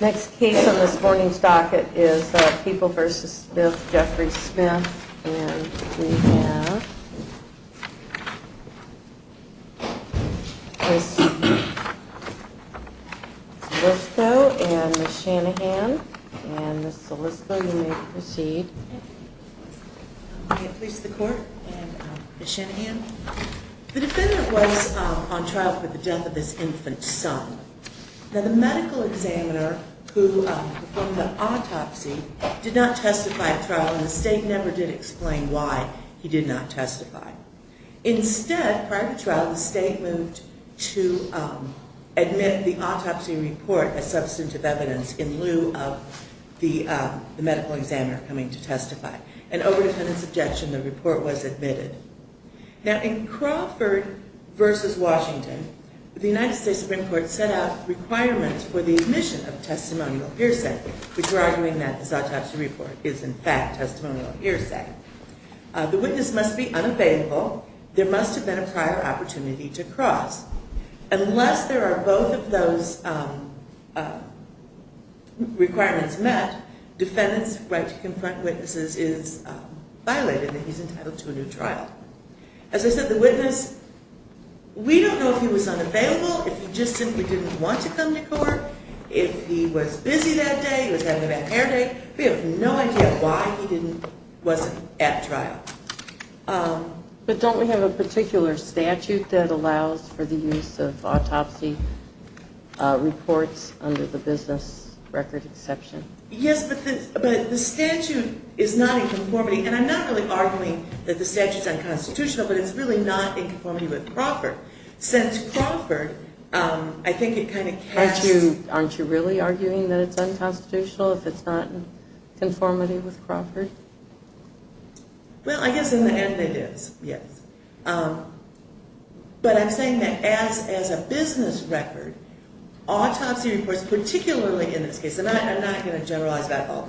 Next case on this morning's docket is People v. Smith, Jeffrey Smith, and we have Ms. Salisco and Ms. Shanahan. Ms. Salisco, you may proceed. Ms. Shanahan The defendant was on trial for the death of his infant son. Now the medical examiner who performed the autopsy did not testify at trial and the state never did explain why he did not testify. Instead, prior to trial, the state moved to admit the autopsy report as substantive evidence in lieu of the medical examiner coming to testify. An over defendant's objection, the report was admitted. Now in Crawford v. Washington, the United States Supreme Court set out requirements for the admission of testimonial hearsay, which we're arguing that this autopsy report is in fact testimonial hearsay. The witness must be unavailable. There must have been a prior opportunity to cross. Unless there are both of those requirements met, defendant's right to confront witnesses is violated and he's entitled to a new trial. As I said, the witness, we don't know if he was unavailable, if he just simply didn't want to come to court, if he was busy that day, he was having a bad hair day. We have no idea why he didn't, wasn't at trial. But don't we have a particular statute that allows for the use of autopsy reports under the business record exception? Yes, but the statute is not in conformity, and I'm not really arguing that the statute's unconstitutional, but it's really not in conformity with Crawford. Since Crawford, I think it kind of casts... Aren't you really arguing that it's unconstitutional if it's not in conformity with Crawford? Well, I guess in the end it is, yes. But I'm saying that as a business record, autopsy reports, particularly in this case, and I'm not going to generalize back all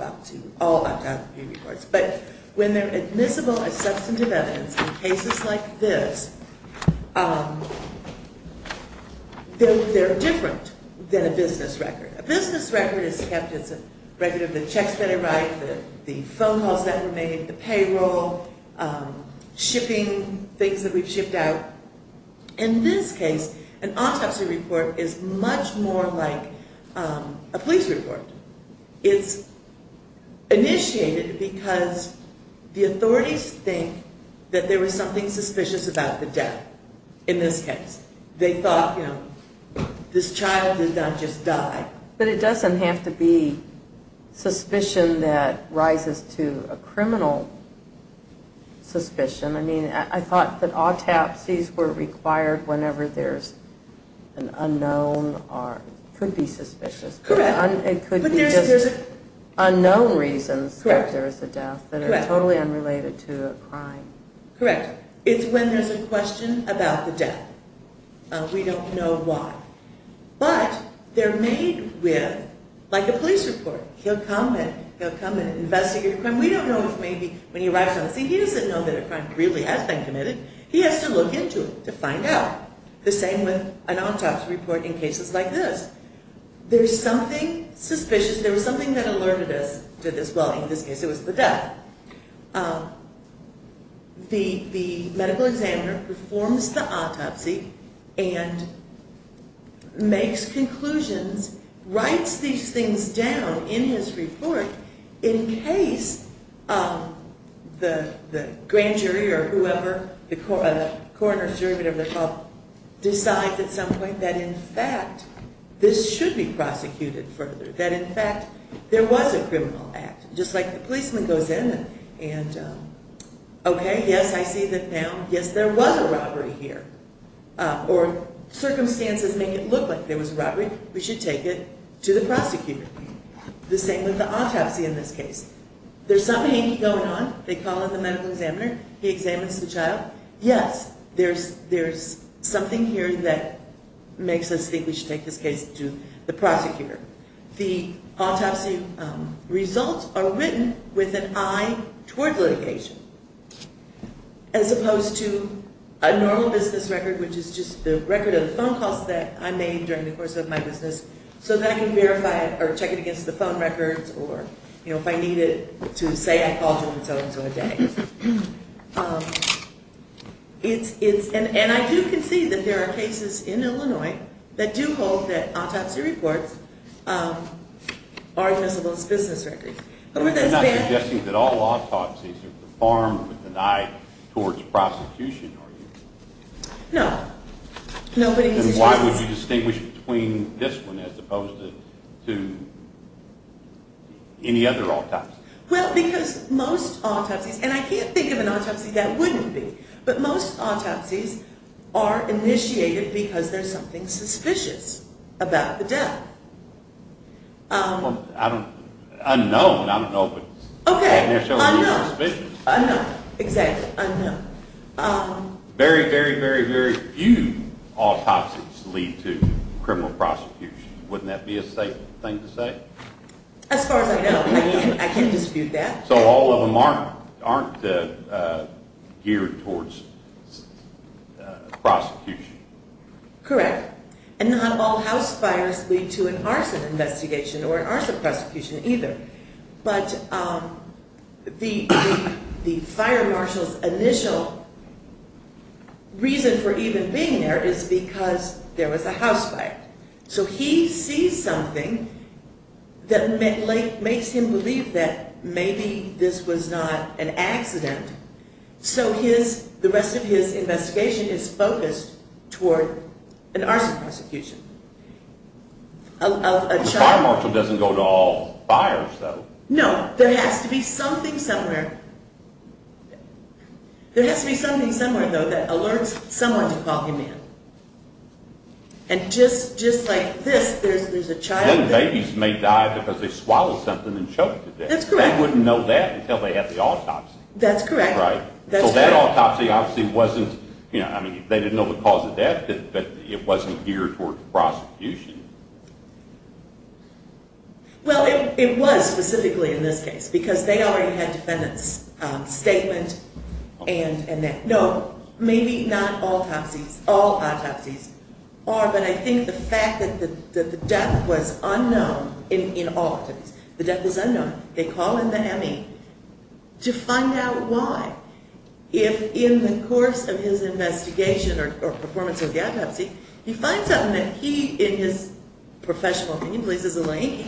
autopsy reports, but when they're admissible as substantive evidence in cases like this, they're different than a business record. A business record is kept as a record of the checks that arrived, the phone calls that were made, the payroll, shipping, things that we've shipped out. In this case, an autopsy report is much more like a police report. It's initiated because the authorities think that there was something suspicious about the death, in this case. They thought, you know, this child did not just die. But it doesn't have to be suspicion that rises to a criminal suspicion. I mean, I thought that autopsies were required whenever there's an unknown, or it could be suspicious, but it could be just unknown reasons that there is a death that are totally unrelated to a crime. Correct. It's when there's a question about the death. We don't know why. But they're made with, like a police report. He'll come and investigate a crime. We don't know if maybe when he arrives on the scene, he doesn't know that a crime really has been committed. He has to look into it to find out. The same with an autopsy report in cases like this. There's something suspicious. There was something that alerted us to this. Well, in this case, it was the death. The medical examiner performs the autopsy and makes conclusions, writes these things down in his report in case the grand jury or whoever, the coroner's jury, whatever they're called, decides at some point that in fact this should be prosecuted further. That in fact there was a criminal act, just like the policeman goes in and, okay, yes, I see that now. Yes, there was a robbery here. Or circumstances make it look like there was a robbery. We should take it to the prosecutor. The same with the autopsy in this case. There's something going on. They call in the medical examiner. He examines the child. Yes, there's something here that makes us think we should take this case to the prosecutor. The autopsy results are written with an eye toward litigation, as opposed to a normal business record, which is just the record of the phone calls that I made during the course of my business so that I can verify it or check it against the phone records or, you know, if I need it to say I called him, so and so, a day. And I do concede that there are cases in Illinois that do hold that autopsy reports are admissible as business records. You're not suggesting that all autopsies are performed with an eye towards prosecution, are you? No. Then why would you distinguish between this one as opposed to any other autopsy? Well, because most autopsies, and I can't think of an autopsy that wouldn't be, but most autopsies are initiated because there's something suspicious about the death. Unknown, I don't know, but initially you're suspicious. Unknown, exactly, unknown. Very, very, very, very few autopsies lead to criminal prosecution. Wouldn't that be a safe thing to say? As far as I know, I can't dispute that. So all of them aren't geared towards prosecution. Correct. And not all house fires lead to an arson investigation or an arson prosecution either. But the fire marshal's initial reason for even being there is because there was a house fire. So he sees something that makes him believe that maybe this was not an accident. So the rest of his investigation is focused toward an arson prosecution. The fire marshal doesn't go to all fires, though. No, there has to be something somewhere. There has to be something somewhere, though, that alerts someone to call him in. And just like this, there's a child. Then babies may die because they swallow something and choke to death. That's correct. They wouldn't know that until they had the autopsy. That's correct. So that autopsy obviously wasn't, I mean, they didn't know the cause of death, but it wasn't geared toward prosecution. Well, it was specifically in this case because they already had defendant's statement and that. No, maybe not all autopsies. All autopsies are. But I think the fact that the death was unknown in all autopsies, the death was unknown. They call in the M.E. to find out why. If in the course of his investigation or performance of the autopsy, he finds out that he, in his professional opinion, believes there's a link,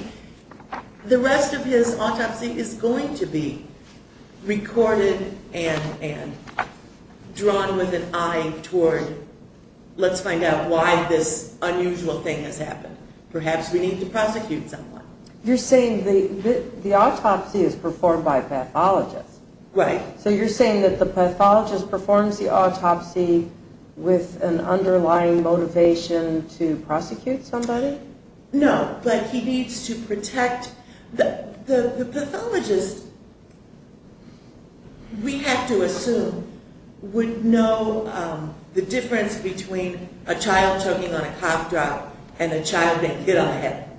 the rest of his autopsy is going to be recorded and drawn with an eye toward, let's find out why this unusual thing has happened. Perhaps we need to prosecute someone. You're saying the autopsy is performed by a pathologist. Right. So you're saying that the pathologist performs the autopsy with an underlying motivation to prosecute somebody? No, but he needs to protect the pathologist, we have to assume, would know the difference between a child choking on a cough drop and a child being hit on the head.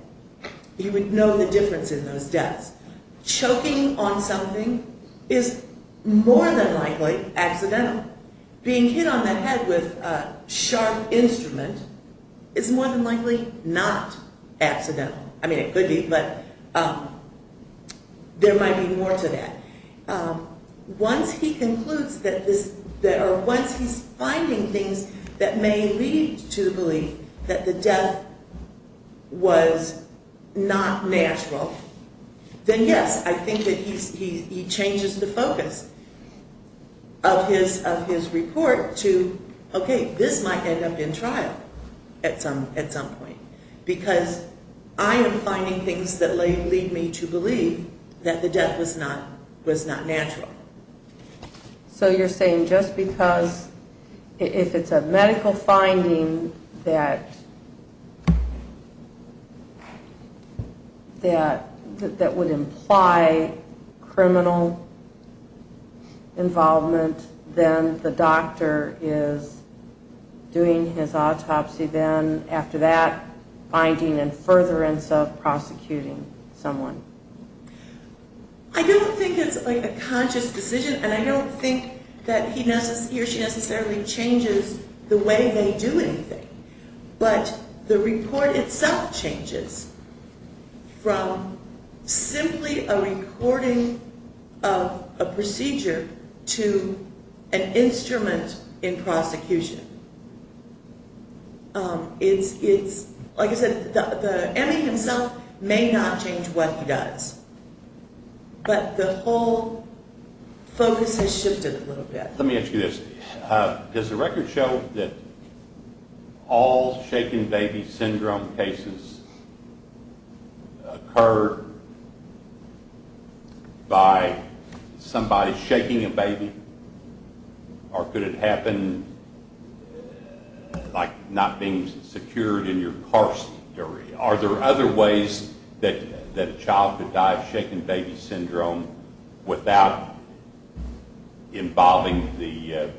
He would know the difference in those deaths. Choking on something is more than likely accidental. Being hit on the head with a sharp instrument is more than likely not accidental. I mean, it could be, but there might be more to that. Once he concludes that this, or once he's finding things that may lead to the belief that the death was not natural, then yes, I think that he changes the focus of his report to, okay, this might end up in trial at some point. Because I am finding things that may lead me to believe that the death was not natural. So you're saying just because, if it's a medical finding that would imply criminal involvement, then the doctor is doing his autopsy then, after that finding and furtherance of prosecuting someone. I don't think it's a conscious decision, and I don't think that he or she necessarily changes the way they do anything. But the report itself changes from simply a recording of a procedure to an instrument in prosecution. It's, like I said, the M.E. himself may not change what he does, but the whole focus has shifted a little bit. Let me ask you this. Does the record show that all shaken baby syndrome cases occur by somebody shaking a baby? Or could it happen, like, not being secured in your carcery? Are there other ways that a child could die of shaken baby syndrome without involving the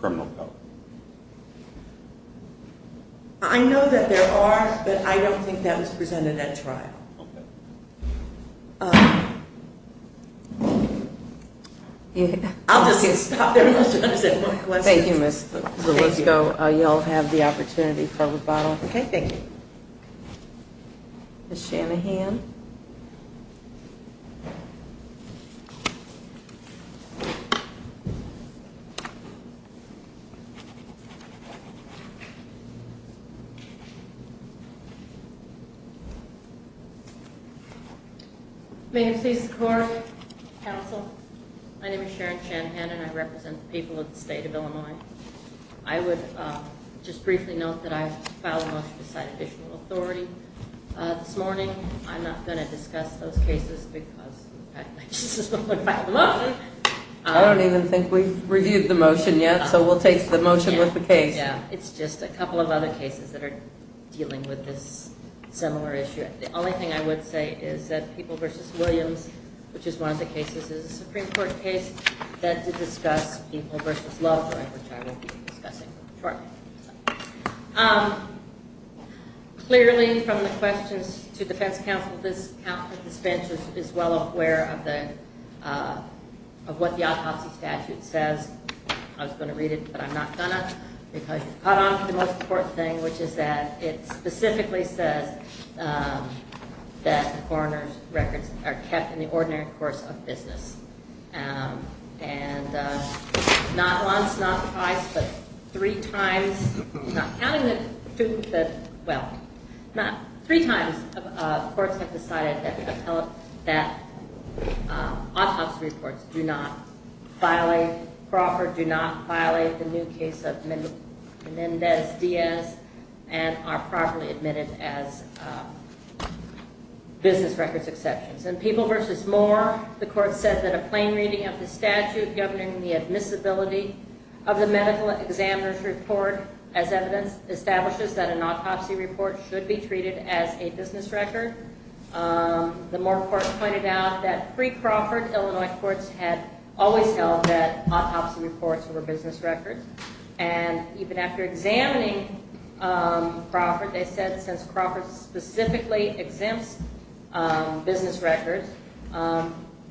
criminal code? I know that there are, but I don't think that was presented at trial. I'll just stop there. Thank you, Ms. Zulisko. You all have the opportunity for rebuttal. Okay, thank you. Ms. Shanahan. May it please the court, counsel. My name is Sharon Shanahan, and I represent the people of the state of Illinois. I would just briefly note that I filed a motion to cite official authority this morning. I'm not going to discuss those cases because I just don't want to file a motion. I don't even think we've reviewed the motion yet, so we'll take the motion with the case. Yeah, it's just a couple of other cases that are dealing with this similar issue. The only thing I would say is that People v. Williams, which is one of the cases that is a Supreme Court case, that did discuss People v. Lovejoy, which I will be discussing shortly. Clearly, from the questions to defense counsel, this bench is well aware of what the autopsy statute says. I was going to read it, but I'm not going to because you caught on to the most important thing, which is that it specifically says that the coroner's records are kept in the ordinary course of business. And not once, not twice, but three times, not counting the two, but well, three times, courts have decided that autopsy reports do not violate Crawford, do not violate the new case of Mendez-Diaz. And are properly admitted as business records exceptions. In People v. Moore, the court said that a plain reading of the statute governing the admissibility of the medical examiner's report as evidence establishes that an autopsy report should be treated as a business record. The Moore court pointed out that pre-Crawford, Illinois courts had always held that autopsy reports were business records. And even after examining Crawford, they said since Crawford specifically exempts business records,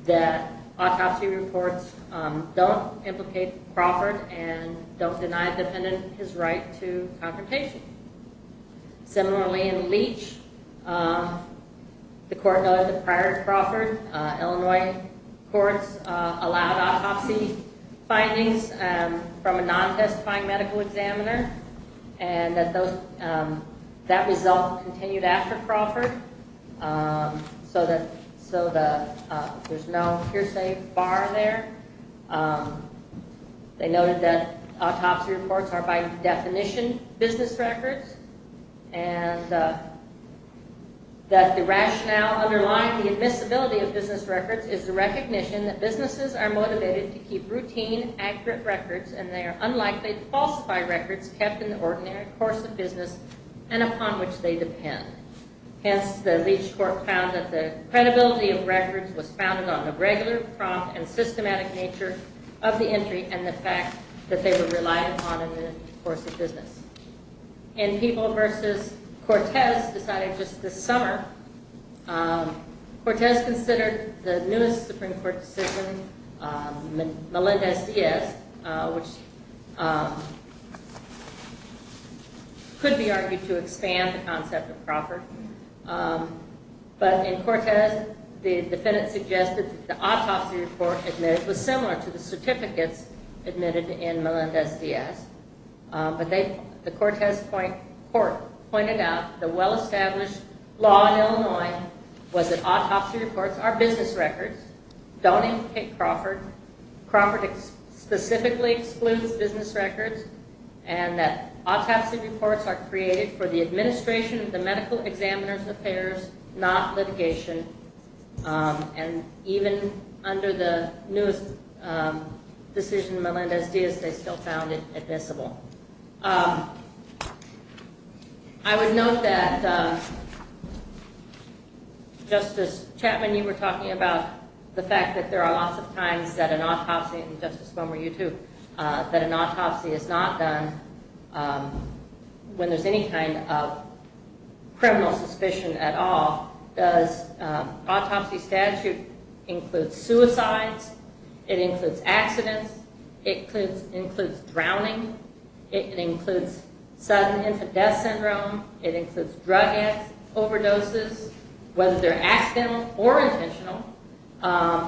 that autopsy reports don't implicate Crawford and don't deny a defendant his right to confrontation. Similarly, in Leach, the court noted that prior to Crawford, Illinois courts allowed autopsy findings from a non-testifying medical examiner, and that that result continued after Crawford. So there's no hearsay bar there. They noted that autopsy reports are by definition business records, and that the rationale underlying the admissibility of business records is the recognition that businesses are motivated to keep routine, accurate records, and they are unlikely to falsify records kept in the ordinary course of business and upon which they depend. Hence, the Leach court found that the credibility of records was founded on the regular, prompt, and systematic nature of the entry and the fact that they were relied upon in the course of business. In People v. Cortez, decided just this summer, Cortez considered the newest Supreme Court decision, Melendez-Diaz, which could be argued to expand the concept of Crawford. But in Cortez, the defendant suggested that the autopsy report was similar to the certificates admitted in Melendez-Diaz, but the Cortez court pointed out the well-established law in Illinois was that autopsy reports are business records, don't implicate Crawford, Crawford specifically excludes business records, and that autopsy reports are created for the administration of the medical examiner's affairs, not litigation, and even under the newest decision, Melendez-Diaz, they still found it admissible. I would note that, Justice Chapman, you were talking about the fact that there are lots of times that an autopsy, and Justice Bomer, you too, that an autopsy is not done when there's any kind of criminal suspicion at all, because an autopsy statute includes suicides, it includes accidents, it includes drowning, it includes sudden infant death syndrome, it includes drug overdoses, whether they're accidental or intentional,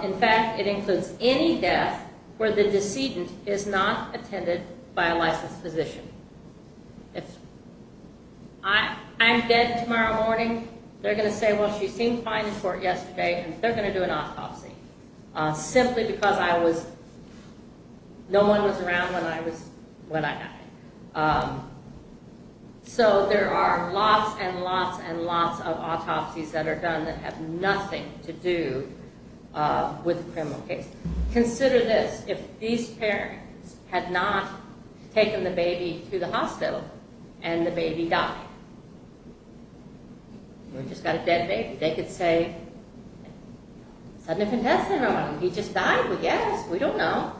in fact, it includes any death where the decedent is not attended by a licensed physician. If I'm dead tomorrow morning, they're going to say, well, she seemed fine in court yesterday, and they're going to do an autopsy, simply because no one was around when I died. So there are lots and lots and lots of autopsies that are done that have nothing to do with a criminal case. Consider this, if these parents had not taken the baby to the hospital, and the baby died. We've just got a dead baby. They could say, sudden infant death syndrome, he just died, we guess, we don't know.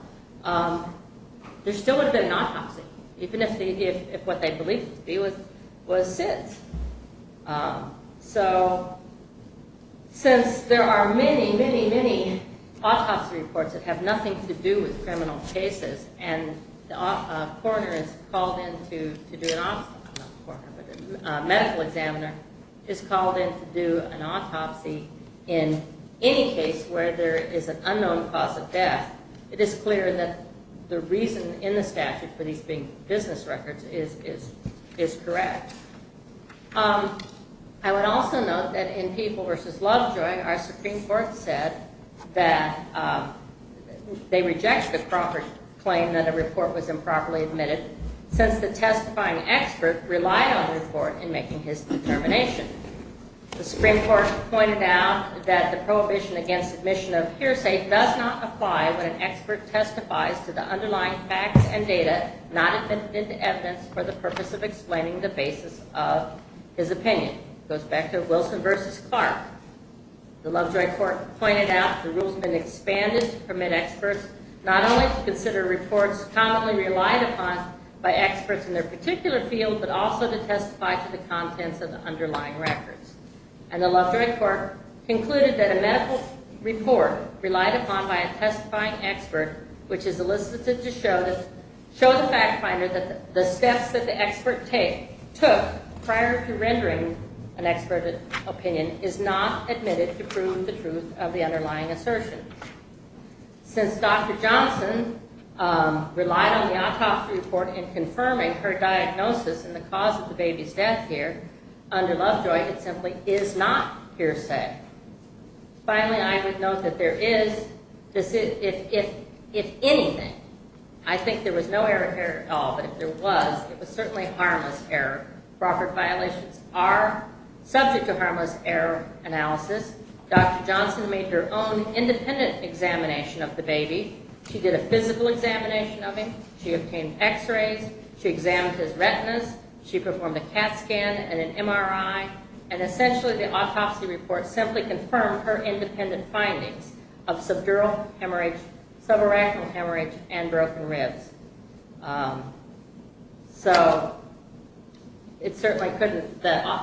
There still would have been an autopsy, even if what they believed to be was sin. So since there are many, many, many autopsy reports that have nothing to do with criminal cases, and a medical examiner is called in to do an autopsy in any case where there is an unknown cause of death, it is clear that the reason in the statute for these being business records is correct. I would also note that in People v. Lovejoy, our Supreme Court said that they reject the proper claim that a report was improperly admitted, since the testifying expert relied on the report in making his determination. The Supreme Court pointed out that the prohibition against admission of hearsay does not apply when an expert testifies to the underlying facts and data not admitted to evidence for the purpose of explaining the basis of his opinion. It goes back to Wilson v. Clark. The Lovejoy court pointed out the rules have been expanded to permit experts not only to consider reports commonly relied upon by experts in their particular field, but also to testify to the contents of the underlying records. And the Lovejoy court concluded that a medical report relied upon by a testifying expert, which is elicited to show the fact finder that the steps that the expert took prior to rendering an expert opinion is not admitted to prove the truth of the underlying assertion. Since Dr. Johnson relied on the autopsy report in confirming her diagnosis and the cause of the baby's death here under Lovejoy, it simply is not hearsay. Finally, I would note that there is, if anything, I think there was no error at all, but if there was, it was certainly harmless error. Proper violations are subject to harmless error analysis. Dr. Johnson made her own independent examination of the baby. She did a physical examination of him. She obtained x-rays. She examined his retinas. She performed a CAT scan and an MRI. And essentially the autopsy report simply confirmed her independent findings of subdural hemorrhage, subarachnal hemorrhage, and broken ribs. So it certainly couldn't, the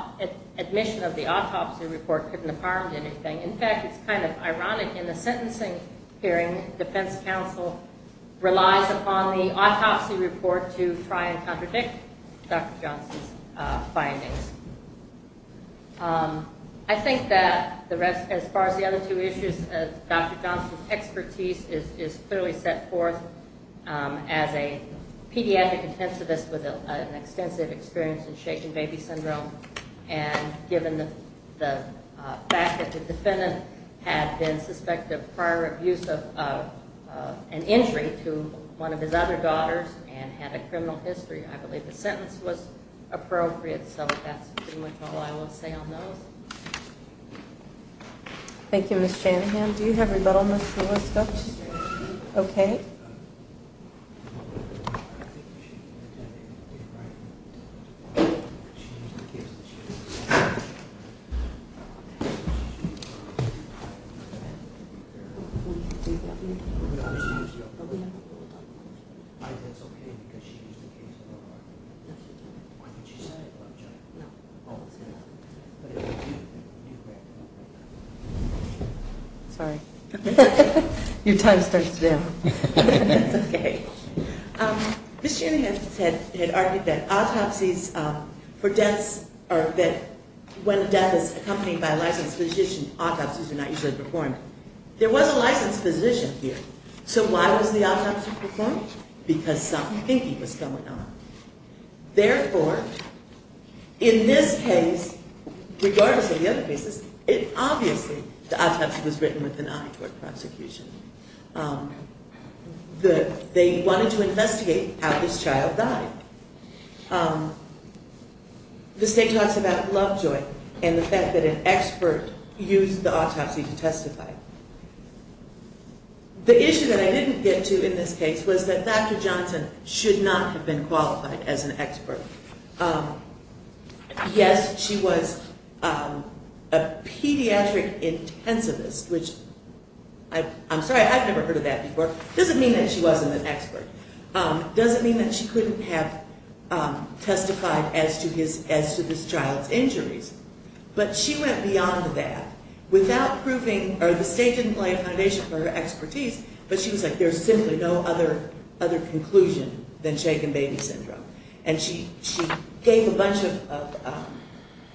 admission of the autopsy report couldn't have harmed anything. In fact, it's kind of ironic in the sentencing hearing, but I think defense counsel relies upon the autopsy report to try and contradict Dr. Johnson's findings. I think that as far as the other two issues, Dr. Johnson's expertise is clearly set forth as a pediatric intensivist with an extensive experience in shaken baby syndrome. And given the fact that the defendant had been suspected of prior abuse of an injury to one of his other daughters and had a criminal history, I believe the sentence was appropriate. So that's pretty much all I will say on those. Thank you, Ms. Shanahan. Do you have rebuttal, Ms. Julisco? Yes. Okay. Thank you. Sorry. Your time starts now. That's okay. Ms. Shanahan had argued that autopsies for deaths or that when death is accompanied by a licensed physician, autopsies are not usually performed. There was a licensed physician here. So why was the autopsy performed? Because some thinking was going on. Therefore, in this case, regardless of the other cases, it obviously, the autopsy was written with an eye toward prosecution. They wanted to investigate how this child died. The state talks about love-joy and the fact that an expert used the autopsy to testify. The issue that I didn't get to in this case was that Dr. Johnson should not have been qualified as an expert. Yes, she was a pediatric intensivist, which I'm sorry, I've never heard of that before. It doesn't mean that she wasn't an expert. It doesn't mean that she couldn't have testified as to this child's injuries. But she went beyond that without proving, or the state didn't lay a foundation for her expertise, but she was like, there's simply no other conclusion than shaken baby syndrome. And she gave a bunch of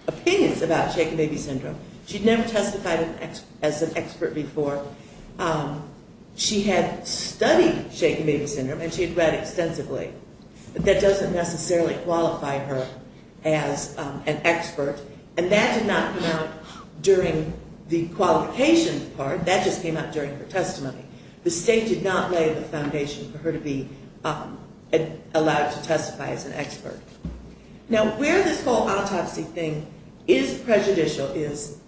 opinions about shaken baby syndrome. She'd never testified as an expert before. She had studied shaken baby syndrome, and she had read extensively. But that doesn't necessarily qualify her as an expert. And that did not come out during the qualification part. That just came out during her testimony. The state did not lay the foundation for her to be allowed to testify as an expert. Now, where this whole autopsy thing is prejudicial is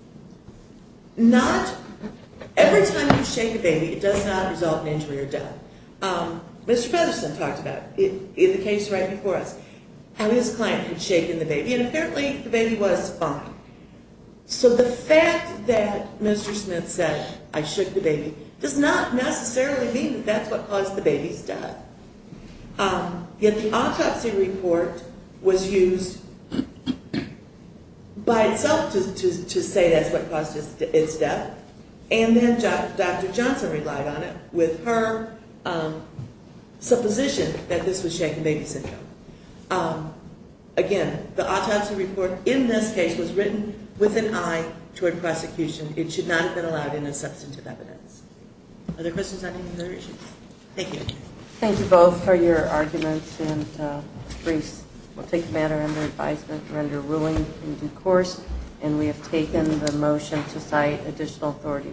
not every time you shake a baby, it does not result in injury or death. Mr. Fettersen talked about it in the case right before us, how his client had shaken the baby, and apparently the baby was fine. So the fact that Mr. Smith said, I shook the baby, does not necessarily mean that that's what caused the baby's death. Yet the autopsy report was used by itself to say that's what caused its death. And then Dr. Johnson relied on it with her supposition that this was shaken baby syndrome. Again, the autopsy report in this case was written with an eye toward prosecution. It should not have been allowed in as substantive evidence. Other questions on any of the other issues? Thank you. Thank you both for your arguments and briefs. We'll take the matter under advisement, render ruling in due course. And we have taken the motion to cite additional authority.